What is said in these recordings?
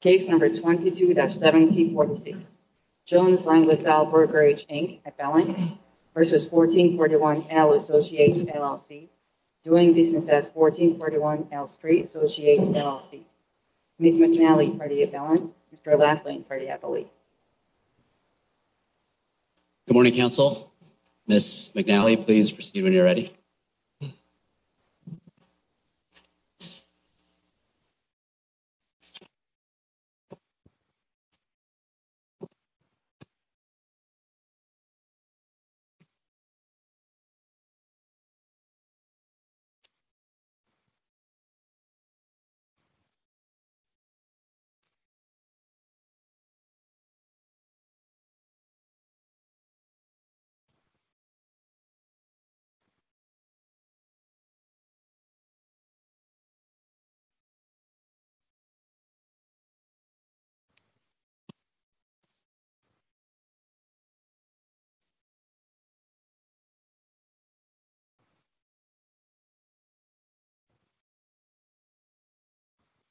Case number 22-1746, Jones Lang Lasalle Brokerage, Inc., Appellant v. 1441 L Associates, LLC, doing business as 1441 L Street Associates, LLC. Ms. McNally for the appellant, Mr. Laughlin for the appellee. Good morning, counsel. Ms. McNally, please proceed when you're ready.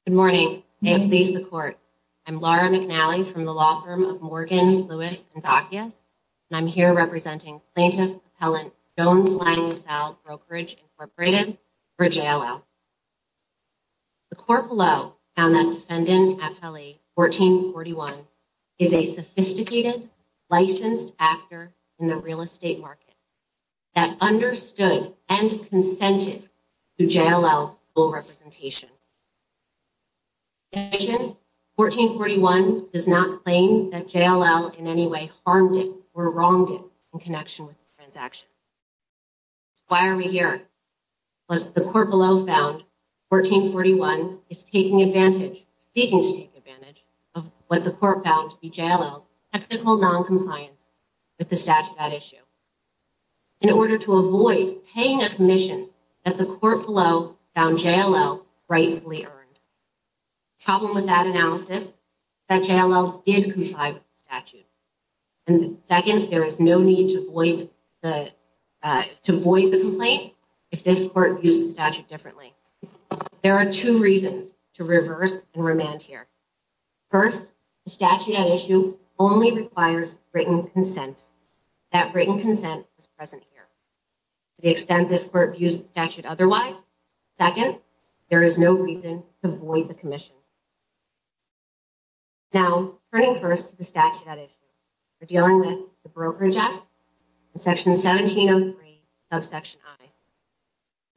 Good morning, may it please the court. I'm Laura McNally from the law firm of Morgan, Lewis, and Dacius, and I'm here representing Plaintiff Appellant Jones Lang Lasalle Brokerage, Inc. for JLL. The court below found that Defendant Appellee 1441 is a sophisticated, licensed actor in the real estate market that understood and consented to JLL's full representation. In addition, 1441 does not claim that JLL in any way harmed it or wronged it in connection with the transaction. Why are we here? Because the court below found 1441 is taking advantage, seeking to take advantage, of what the court found to be JLL's technical non-compliance with the statute at issue in order to avoid paying a commission that the court below found JLL rightfully earned. The problem with that analysis is that JLL did comply with the statute, and second, there is no need to void the complaint if this court views the statute differently. There are two reasons to reverse and remand here. First, the statute at issue only requires written consent. That written consent is present here. To the extent this court views the statute otherwise, second, there is no reason to void the commission. Now, turning first to the statute at issue, we're dealing with the Brokerage Act, Section 1703 of Section I.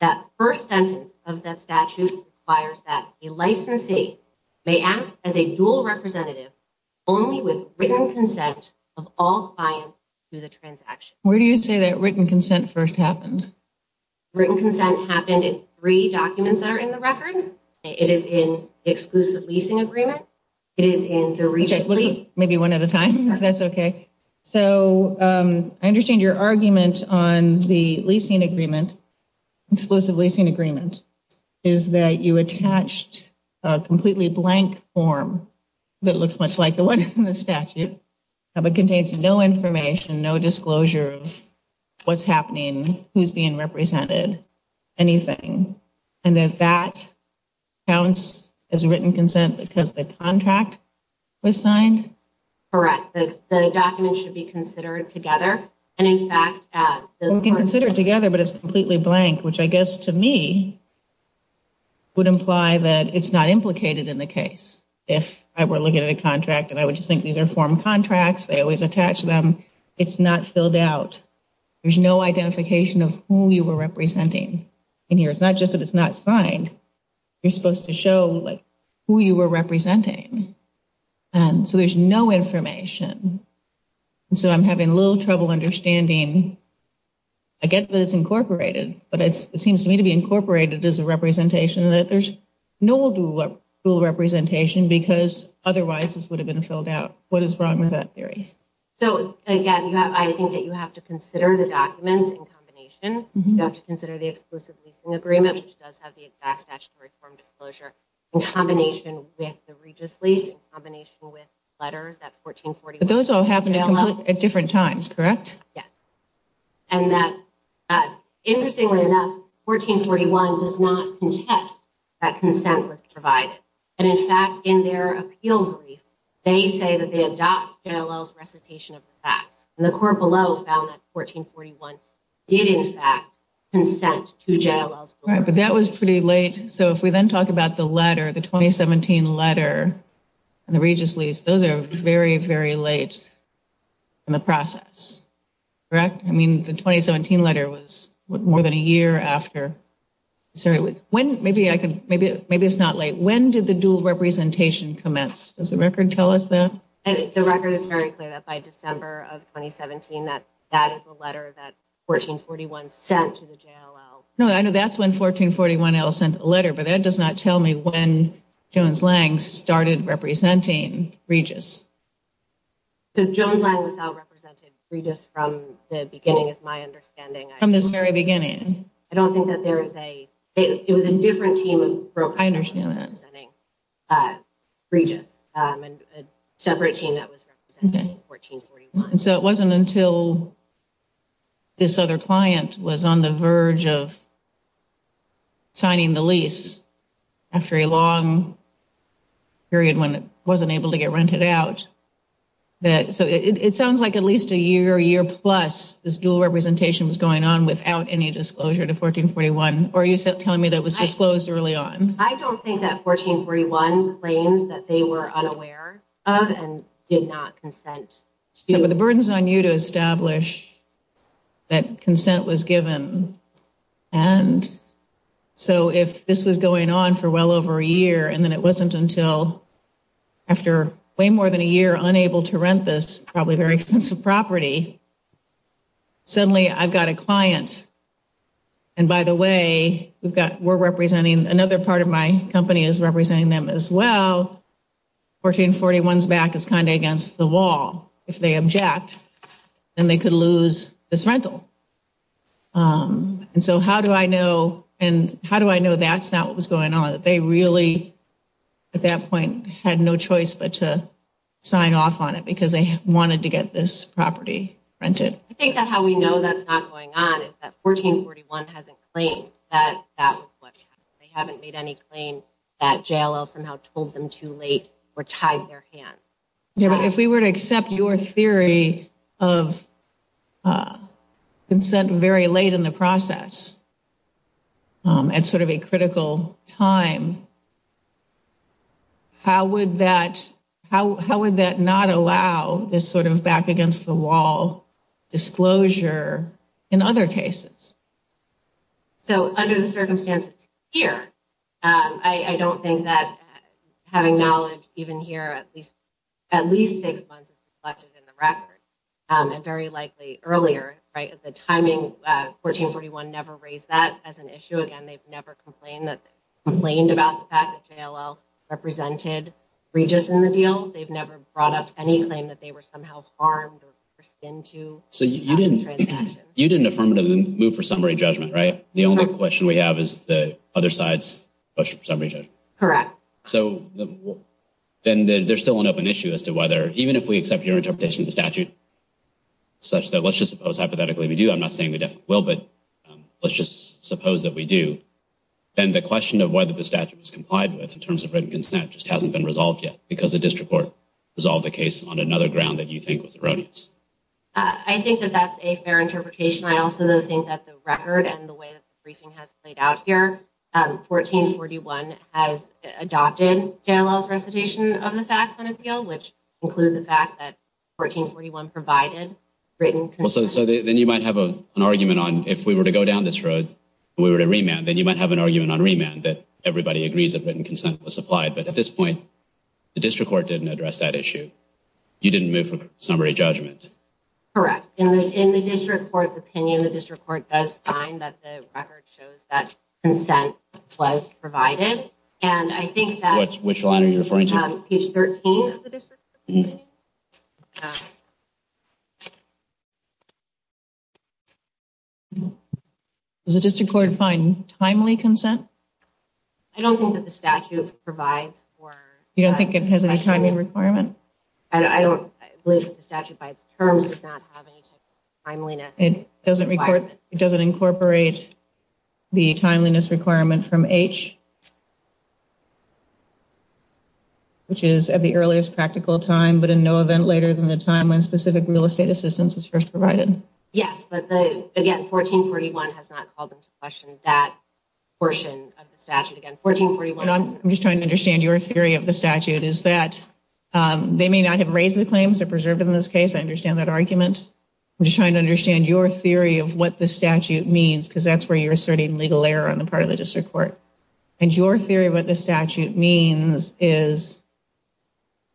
That first sentence of that statute requires that a licensee may act as a dual representative only with written consent of all clients to the transaction. Where do you say that written consent first happened? Written consent happened in three documents that are in the record. It is in the Exclusive Leasing Agreement. It is in the Registry. Maybe one at a time, if that's okay. So, I understand your argument on the leasing agreement, Exclusive Leasing Agreement, is that you attached a completely blank form that looks much like the one in the statute, but contains no information, no disclosure of what's happening, who's being represented, anything. And that that counts as written consent because the contract was signed? Correct. The document should be considered together. And in fact, we can consider it together, but it's completely blank, which I guess to me would imply that it's not implicated in the case. If I were looking at a contract and I would just think these are form contracts, they always attach them. It's not filled out. There's no identification of who you were representing in here. It's not just that it's not signed. You're supposed to show who you were representing. So, there's no information. So, I'm having a little trouble understanding. I get that it's incorporated, but it seems to me to be incorporated as a representation that there's no dual representation because otherwise this would have been filled out. What is wrong with that theory? So, again, I think that you have to consider the documents in combination. You have to consider the exclusive leasing agreement, which does have the exact statutory form disclosure, in combination with the Regis lease, in combination with the letter that 1441- Those all happen at different times, correct? Yes. And that, interestingly enough, 1441 does not contest that consent was provided. And in fact, in their appeal brief, they say that they adopt JLL's recitation of the facts. And the court below found that 1441 did, in fact, consent to JLL's- Right, but that was pretty late. So, if we then talk about the letter, the 2017 letter and the Regis lease, those are very, very late in the process, correct? I mean, the 2017 letter was more than a year after. Sorry, when- Maybe I can- Maybe it's not late. When did the dual representation commence? Does the record tell us that? The record is very clear that by December of 2017, that is the letter that 1441 sent to the JLL. No, I know that's when 1441 sent a letter, but that does not tell me when Jones-Lang started representing Regis. So, Jones-Lang was out-represented Regis from the beginning, is my understanding. From this very beginning. I don't think that there is a- It was a different team of- I understand that. That was representing Regis, a separate team that was representing 1441. So, it wasn't until this other client was on the verge of signing the lease after a long period when it wasn't able to get rented out that- So, it sounds like at least a year, year plus, this dual representation was going on without any disclosure to 1441, or are you telling me that it was disclosed early on? I don't think that 1441 claims that they were unaware of and did not consent. But the burden's on you to establish that consent was given. And so, if this was going on for well over a year, and then it wasn't until after way more than a year unable to rent this probably very expensive property, suddenly I've got a client. And by the way, we're representing- Another part of my company is representing them as well. 1441's back is kind of against the wall. If they object, then they could lose this rental. And so, how do I know that's not what was going on? They really, at that point, had no choice but to sign off on it because they wanted to get this property rented. I think that how we know that's not going on is that 1441 hasn't claimed that that was what happened. They haven't made any claim that JLL somehow told them too late or tied their hands. Yeah, but if we were to accept your theory of consent very late in the process at sort of a critical time, how would that not allow this sort of back-against-the-wall disclosure in other cases? So, under the circumstances here, I don't think that having knowledge even here, at least six months is reflected in the record, and very likely earlier, right? At the timing, 1441 never raised that as an issue again. They've never complained about that. JLL represented Regis in the deal. They've never brought up any claim that they were somehow harmed or skinned to. So, you didn't affirmatively move for summary judgment, right? The only question we have is the other side's summary judgment. Correct. So, then there's still an open issue as to whether, even if we accept your interpretation of the statute, such that let's just suppose hypothetically we do. I'm not saying we definitely will, but let's just suppose that we do. Then the question of whether the statute is complied with in terms of written consent just hasn't been resolved yet because the district court resolved the case on another ground that you think was erroneous. I think that that's a fair interpretation. I also think that the record and the way that the briefing has played out here, 1441 has adopted JLL's recitation of the fact on the appeal, which included the fact that 1441 provided written consent. So, then you might have an argument on if we were to go down this road and we were to have an argument on remand that everybody agrees that written consent was supplied. But at this point, the district court didn't address that issue. You didn't move for summary judgment. Correct. And in the district court's opinion, the district court does find that the record shows that consent was provided. And I think that... Which line are you referring to? Page 13 of the district court's opinion. Yeah. Does the district court find timely consent? I don't think that the statute provides for... You don't think it has any timing requirement? I don't believe that the statute by its terms does not have any type of timeliness. It doesn't incorporate the timeliness requirement from H, which is at the earliest practical time, but in no event later than the time when specific real estate assistance is first provided. Yes, but again, 1441 has not called into question that portion of the statute. Again, 1441... And I'm just trying to understand your theory of the statute is that they may not have raised the claims or preserved them in this case. I understand that argument. I'm just trying to understand your theory of what the statute means, because that's where you're asserting legal error on the part of the district court. And your theory of what the statute means is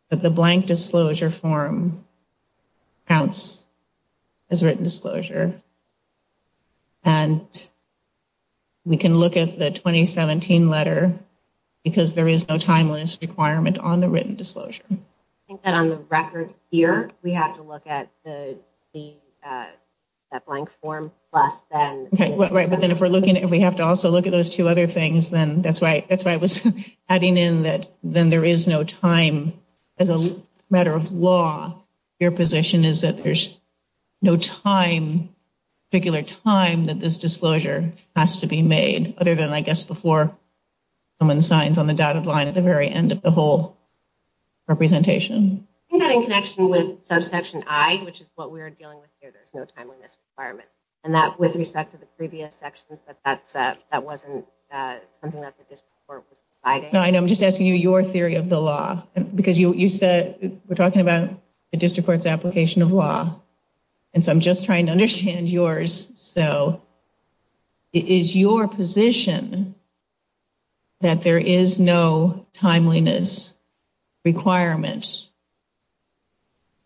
that the blank disclosure form counts as written disclosure. And we can look at the 2017 letter because there is no timeliness requirement on the written disclosure. I think that on the record here, we have to look at the blank form less than... But then if we have to also look at those two other things, then that's why I was adding in that then there is no time as a matter of law. Your position is that there's no particular time that this disclosure has to be made, other than, I guess, before someone signs on the dotted line at the very end of the whole representation. I think that in connection with subsection I, which is what we're dealing with here, there's no timeliness requirement. And that with respect to the previous sections, that wasn't something that the district court was deciding. I know. I'm just asking you your theory of the law, because you said we're talking about the district court's application of law. And so I'm just trying to understand yours. So is your position that there is no timeliness requirement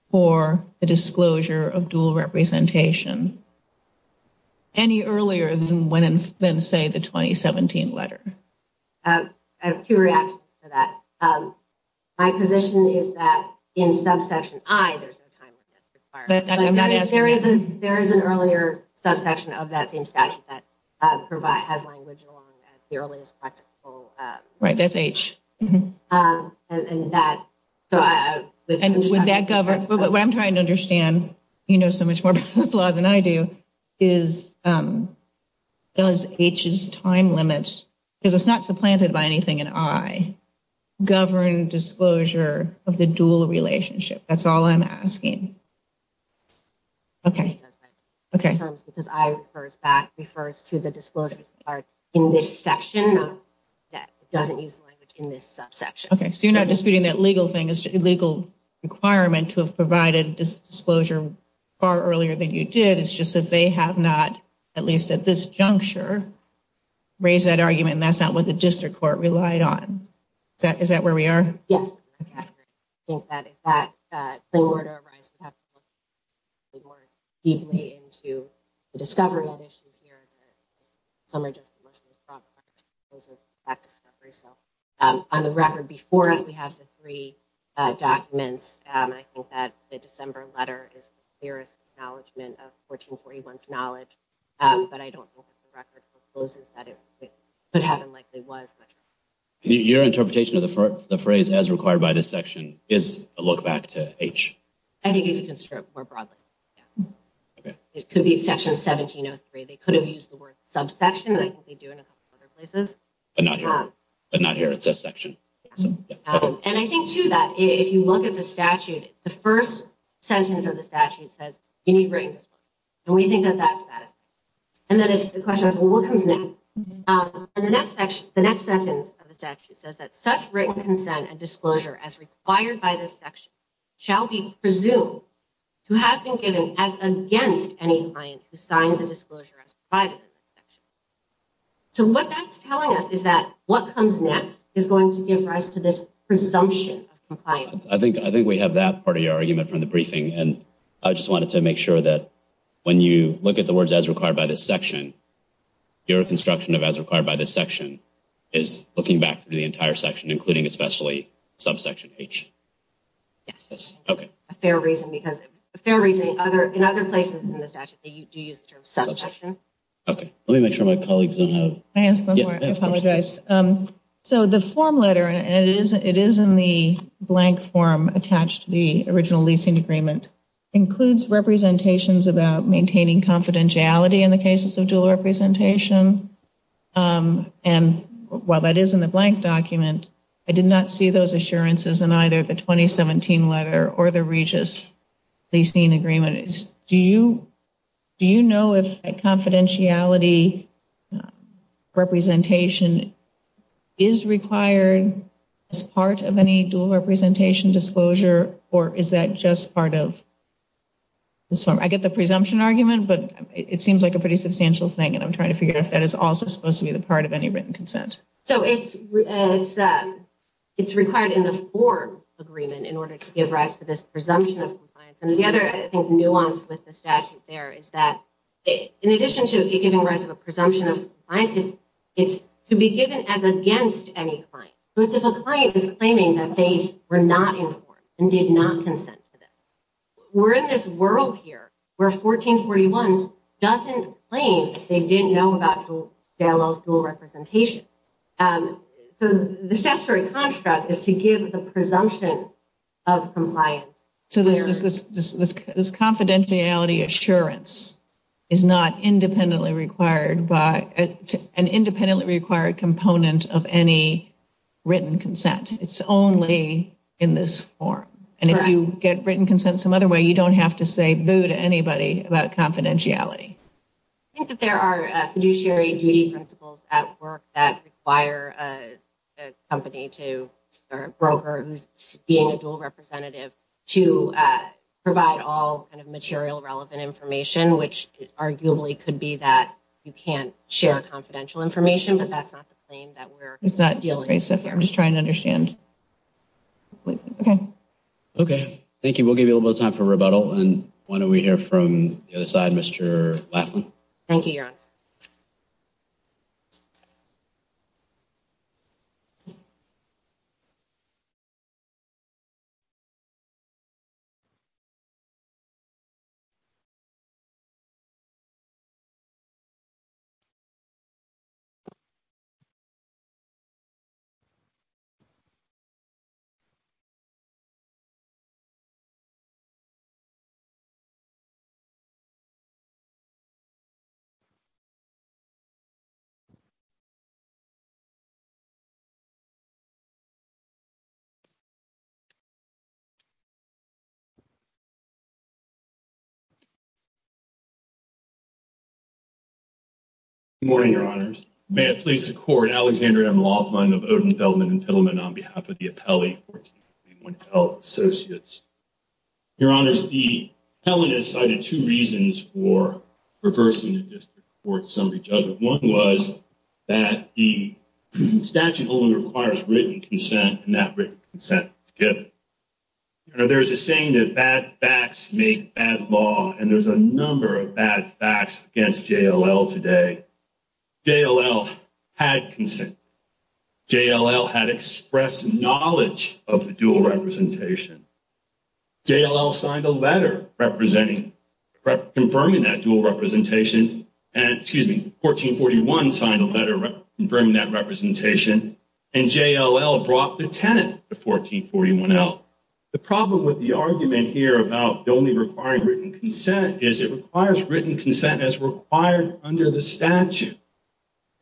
for the disclosure of dual representation any earlier than, say, the 2017 letter? I have two reactions to that. My position is that in subsection I, there's no timeliness required. There is an earlier subsection of that same statute that has language along the earliest practical... Right. That's H. And that... What I'm trying to understand, you know so much more about this law than I do, is does H's time limit, because it's not supplanted by anything in I, govern disclosure of the dual relationship? That's all I'm asking. Okay. Okay. Because I refers back, refers to the disclosure in this section that doesn't use language in this subsection. Okay. So you're not disputing that legal thing is illegal requirement to have provided disclosure far earlier than you did. It's just that they have not, at least at this juncture, raised that argument. And that's not what the district court relied on. Is that where we are? Yes. I think that if that claim were to arise, we'd have to look more deeply into the discovery of that issue here. Some are just emotionally traumatized because of that discovery. So on the record before us, we have the three documents. I think that the December letter is the clearest acknowledgement of 1441's knowledge. But I don't know if the record proposes that it could have and likely was. Your interpretation of the phrase, as required by this section, is a look back to H? I think you can describe it more broadly. Okay. It could be section 1703. They could have used the word subsection. I think they do in a couple other places. But not here. But not here. It says section. And I think, too, that if you look at the statute, the first sentence of the statute says you need written disclosure. And we think that that's that. And then it's the question of what comes next. And the next sentence of the statute says that such written consent and disclosure as required by this section shall be presumed to have been given as against any client who signs a disclosure as provided in this section. So what that's telling us is that what comes next is going to give rise to this presumption of compliance. I think we have that part of your argument from the briefing. And I just wanted to make sure that when you look at the words as required by this section, your construction of as required by this section is looking back through the entire section, including especially subsection H. Yes. OK. A fair reason. Because a fair reason in other places in the statute, they do use the term subsection. OK. Let me make sure my colleagues don't have. Can I ask one more? I apologize. So the form letter, and it is in the blank form attached to the original leasing agreement, includes representations about maintaining confidentiality in the cases of dual representation. And while that is in the blank document, I did not see those assurances in either the 2017 letter or the Regis leasing agreement. Do you know if a confidentiality representation is required as part of any dual representation disclosure, or is that just part of this form? I get the presumption argument, but it seems like a pretty substantial thing, and I'm trying to figure out if that is also supposed to be the part of any written consent. So it's required in the form agreement in order to give rise to this presumption of compliance. And the other, I think, nuance with the statute there is that, in addition to giving rise to a presumption of compliance, it's to be given as against any client. So it's if a client is claiming that they were not informed and did not consent to this. We're in this world here where 1441 doesn't claim they didn't know about JLL's dual representation. So the statutory construct is to give the presumption of compliance. So this confidentiality assurance is not an independently required component of any written consent. It's only in this form. And if you get written consent some other way, you don't have to say boo to anybody about confidentiality. I think that there are fiduciary duty principles at work that require a company to, or a broker who's being a dual representative, to provide all kind of material relevant information, which arguably could be that you can't share confidential information, but that's not the claim that we're dealing with here. I'm just trying to understand. Okay, thank you. We'll give you a little bit of time for rebuttal. And why don't we hear from the other side, Mr. Laughlin. Thank you, Your Honor. Good morning, Your Honors. May it please the Court, Alexander M. Laughlin of Odenfeldman & Pittleman on behalf of the appellee, 1431 Appellate Associates. Your Honors, the appellant has cited two reasons for reversing the district court summary judgment. One was that the statute only requires written consent and not written consent together. There's a saying that bad facts make bad law. And there's a number of bad facts against JLL today. JLL had consent. JLL had expressed knowledge of the dual representation. JLL signed a letter representing, confirming that dual representation. And, excuse me, 1441 signed a letter confirming that representation. And JLL brought the tenant to 1441L. The problem with the argument here about only requiring written consent is it requires written consent.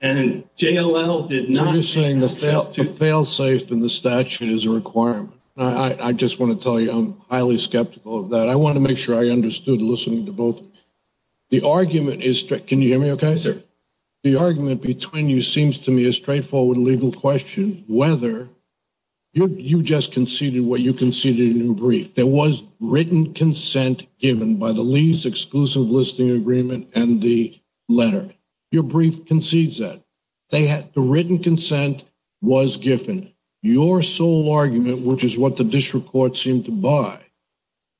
And JLL did not. You're saying the failsafe in the statute is a requirement. I just want to tell you I'm highly skeptical of that. I want to make sure I understood listening to both. The argument is, can you hear me okay? Sir. The argument between you seems to me a straightforward legal question. Whether you just conceded what you conceded in your brief. There was written consent given by the lease exclusive listing agreement and the letter. Your brief concedes that. They had the written consent was given. Your sole argument, which is what the district court seemed to buy.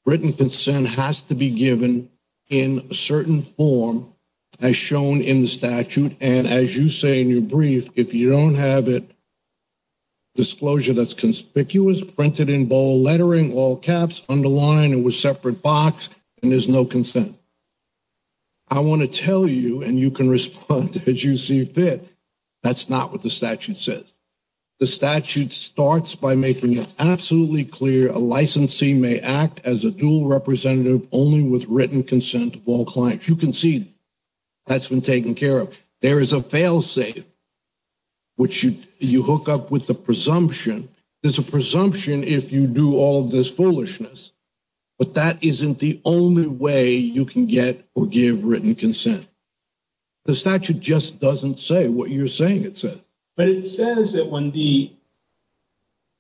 Written consent has to be given in a certain form as shown in the statute. And as you say in your brief, if you don't have it. Disclosure that's conspicuous, printed in bold lettering, all caps underline it was separate box and there's no consent. I want to tell you and you can respond as you see fit. That's not what the statute says. The statute starts by making it absolutely clear a licensee may act as a dual representative only with written consent of all clients. You can see. That's been taken care of. There is a failsafe. Which you you hook up with the presumption. There's a presumption if you do all this foolishness. But that isn't the only way you can get or give written consent. The statute just doesn't say what you're saying. It says. But it says that when the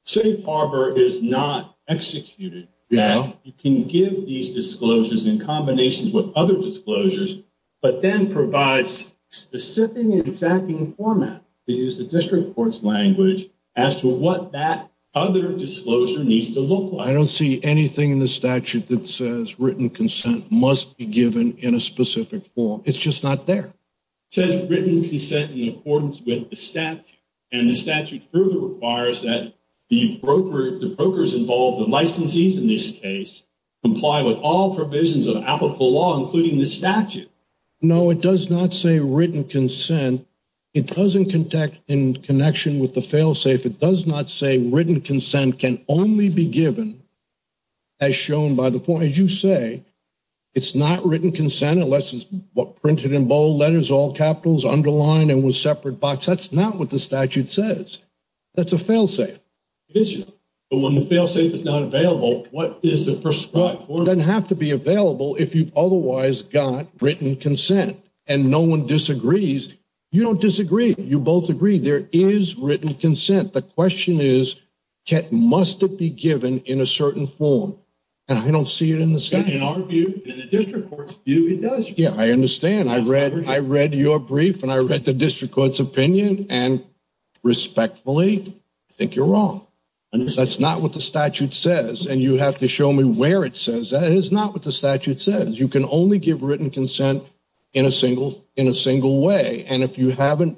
safe harbor is not executed. Yeah, you can give these disclosures in combinations with other disclosures. But then provides specific exacting format. It is the district court's language as to what that other disclosure needs to look like. I don't see anything in the statute that says written consent must be given in a specific form. It's just not there. Says written consent in accordance with the statute and the statute further requires that the broker the brokers involved the licensees in this case comply with all provisions of applicable law, including the statute. No, it does not say written consent. It doesn't contact in connection with the failsafe. It does not say written consent can only be given. As shown by the point you say. It's not written consent unless it's what printed in bold letters, all capitals underlined and was separate box. That's not what the statute says. That's a failsafe issue. But when the failsafe is not available, what is the first one doesn't have to be available if you've otherwise got written consent and no one disagrees. You don't disagree. You both agree there is written consent. The question is, must it be given in a certain form? And I don't see it in the statute. In our view, in the district court's view, it does. Yeah, I understand. I read I read your brief and I read the district court's opinion and respectfully, I think you're wrong. That's not what the statute says. And you have to show me where it says that is not what the statute says. You can only give written consent in a single in a single way. And if you haven't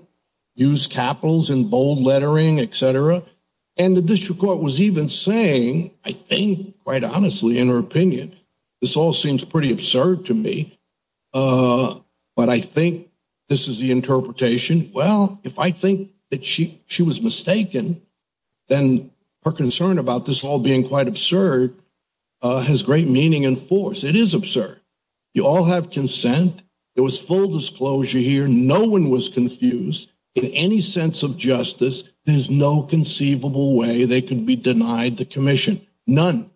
used capitals and bold lettering, et cetera, and the district court was even saying, I think, quite honestly, in her opinion, this all seems pretty absurd to me. But I think this is the interpretation. Well, if I think that she she was mistaken, then her concern about this all being quite absurd has great meaning and force. It is absurd. You all have consent. It was full disclosure here. No one was confused in any sense of justice. There's no conceivable way they could be denied the commission. None.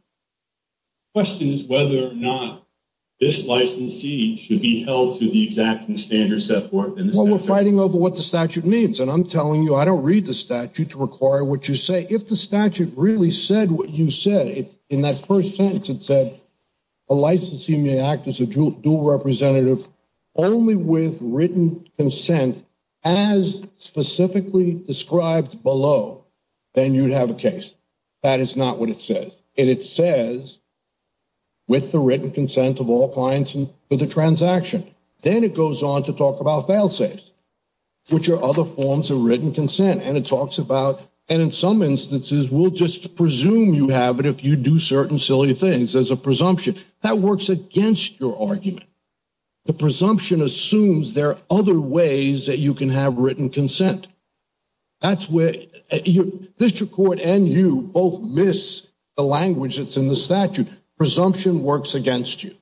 Question is whether or not this licensee should be held to the exact standard set forth. Well, we're fighting over what the statute means. And I'm telling you, I don't read the statute to require what you say. If the statute really said what you said in that first sentence, it said a licensee may act as a dual representative only with written consent as specifically described below, then you'd have a case. That is not what it says. And it says with the written consent of all clients and the transaction, then it goes on to talk about fail safes, which are other forms of written consent. And it talks about and in some instances will just presume you have it if you do certain silly things as a presumption. That works against your argument. The presumption assumes there are other ways that you can have written consent. That's where your district court and you both miss the language that's in the statute. Presumption works against you.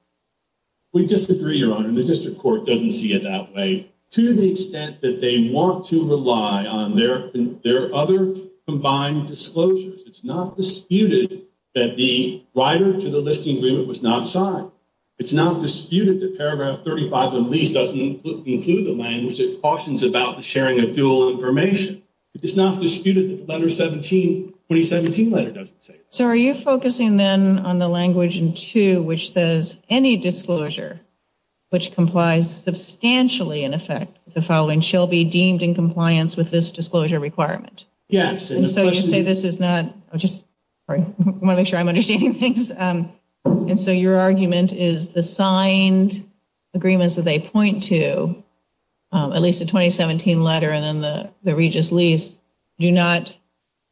We disagree, Your Honor. The district court doesn't see it that way to the extent that they want to rely on their other combined disclosures. It's not disputed that the rider to the listing agreement was not signed. It's not disputed that paragraph 35 of the lease doesn't include the language that cautions about the sharing of dual information. It's not disputed that the letter 17, 2017 letter doesn't say that. So are you focusing then on the language in two which says any disclosure which complies substantially in effect with the following shall be deemed in compliance with this disclosure requirement? Yes. And so you say this is not, I just want to make sure I'm understanding things. And so your argument is the signed agreements that they point to, at least the 2017 letter and then the Regis lease, do not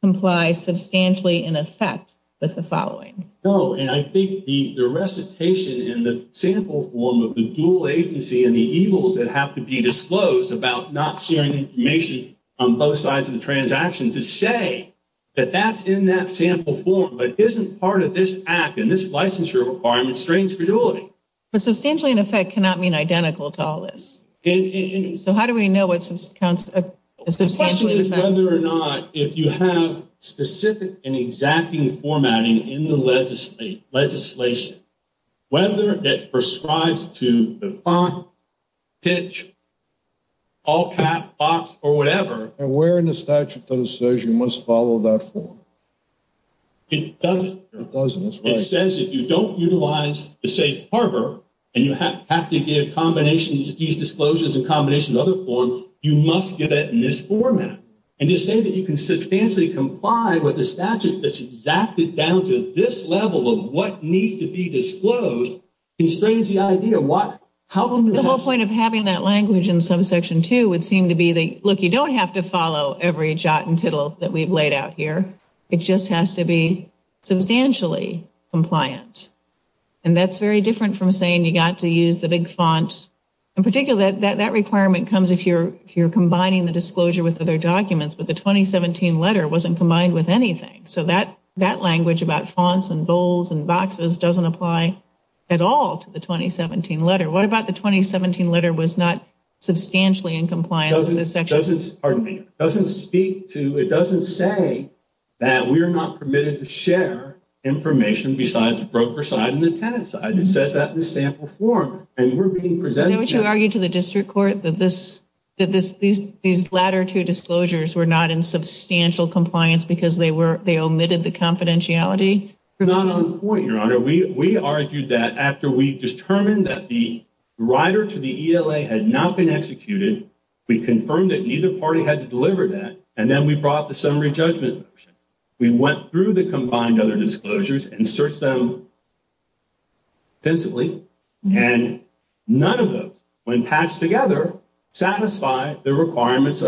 comply substantially in effect with the following. No. And I think the recitation in the sample form of the dual agency and the evils that have to be disclosed about not sharing information on both sides of the transaction to say that that's in that sample form, but isn't part of this act and this licensure requirement strains credulity. But substantially in effect cannot mean identical to all this. So how do we know what substantially in effect? Whether or not if you have specific and exacting formatting in the legislation, whether it all cap box or whatever. And where in the statute does it say you must follow that form? It doesn't. It doesn't, that's right. It says if you don't utilize the safe harbor and you have to give combinations of these disclosures and combinations of other forms, you must give that in this format. And to say that you can substantially comply with the statute that's exactly down to this level of what needs to be disclosed constrains the idea. The whole point of having that language in subsection two would seem to be the, look, you don't have to follow every jot and tittle that we've laid out here. It just has to be substantially compliant. And that's very different from saying you got to use the big font. In particular, that requirement comes if you're combining the disclosure with other documents, but the 2017 letter wasn't combined with anything. So that language about fonts and bowls and boxes doesn't apply at all to the 2017 letter. What about the 2017 letter was not substantially in compliance with this section? Doesn't, pardon me, doesn't speak to, it doesn't say that we're not permitted to share information besides the broker side and the tenant side. It says that in the sample form. And we're being presented to- Is that what you argued to the district court, that these latter two disclosures were not in substantial compliance because they were, they omitted the confidentiality provision? Not on point, Your Honor. We argued that after we determined that the writer to the ELA had not been executed, we confirmed that neither party had to deliver that, and then we brought the summary judgment motion. We went through the combined other disclosures and searched them intensively, and none of those, when patched together, satisfy the requirements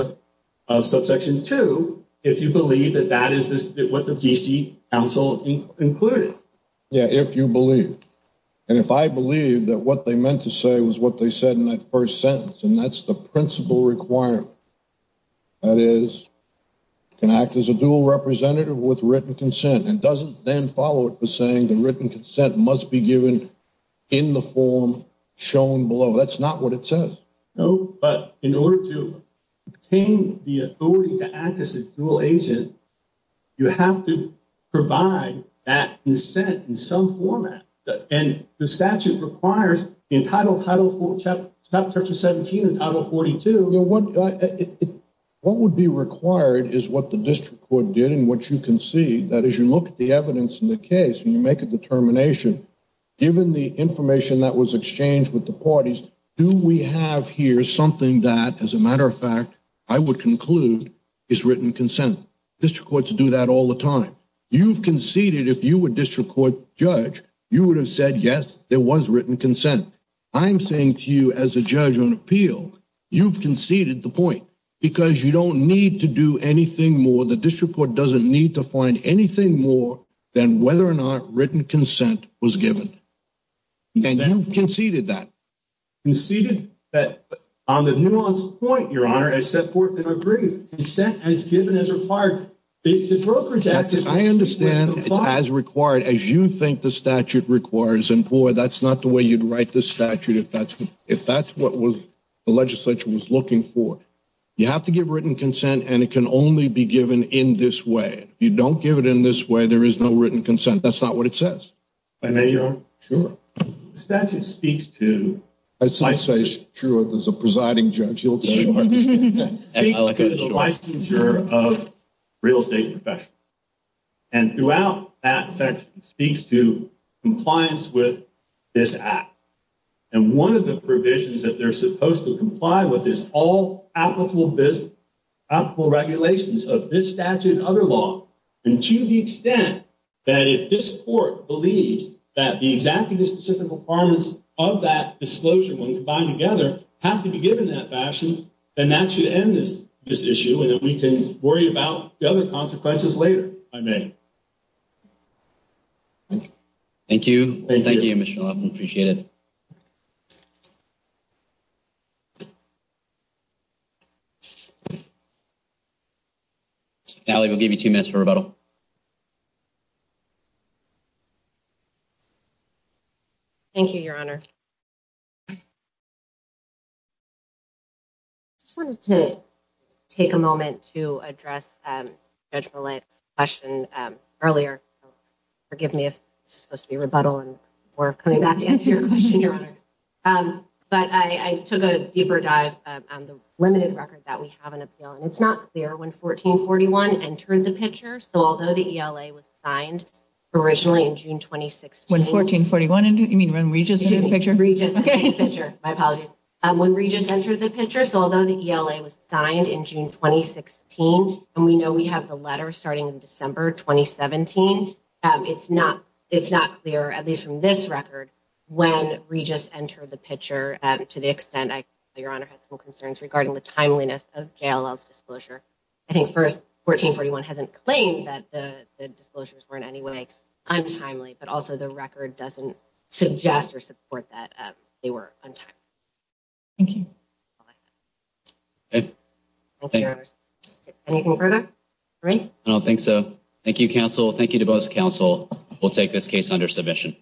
of subsection two, if you believe that that is what the D.C. Council included. Yeah, if you believe. And if I believe that what they meant to say was what they said in that first sentence, and that's the principal requirement, that is, can act as a dual representative with written consent and doesn't then follow it for saying the written consent must be given in the form shown below. That's not what it says. No, but in order to obtain the authority to act as a dual agent, you have to provide that consent in some format. And the statute requires in Title 4, Chapter 17 and Title 42. What would be required is what the district court did and what you concede, that as you look at the evidence in the case and you make a determination, given the information that was exchanged with the parties, do we have here something that, as a matter of fact, I would conclude is written consent. District courts do that all the time. You've conceded if you were district court judge, you would have said, yes, there was written consent. I'm saying to you as a judge on appeal, you've conceded the point because you don't need to do anything more. The district court doesn't need to find anything more than whether or not written consent was given. And you've conceded that. Conceded that on the nuance point, Your Honor, I set forth and agreed. Consent as given as required. I understand it's as required as you think the statute requires. And boy, that's not the way you'd write the statute if that's what the legislature was looking for. You have to give written consent and it can only be given in this way. If you don't give it in this way, there is no written consent. That's not what it says. If I may, Your Honor? Sure. The statute speaks to licensure of real estate professionals. And throughout that section, it speaks to compliance with this act. And one of the provisions that they're supposed to comply with is all applicable regulations of this statute and other law. And to the extent that if this court believes that the exact and specific requirements of that disclosure when combined together have to be given in that fashion, then that should end this issue. And then we can worry about the other consequences later, if I may. Thank you. Thank you, Mr. Levin. Appreciate it. Allie, we'll give you two minutes for rebuttal. Thank you, Your Honor. Just wanted to take a moment to address Judge Millett's question earlier. Forgive me if this is supposed to be rebuttal and we're coming back to answer your question, Your Honor. But I took a deeper dive on the limited record that we have in appeal. And it's not clear when 1441 entered the picture. So although the ELA was signed originally in June 2016. When 1441, you mean when Regis entered the picture? Regis entered the picture. My apologies. When Regis entered the picture. So although the ELA was signed in June 2016, and we know we have the letter starting in December 2017, it's not clear, at least from this record, when Regis entered the picture. To the extent, Your Honor, had some concerns regarding the timeliness of JLL's disclosure. I think first, 1441 hasn't claimed that the disclosures were in any way untimely. But also, the record doesn't suggest or support that they were untimely. Thank you. Anything further? No, I don't think so. Thank you, counsel. Thank you to both counsel. We'll take this case under submission.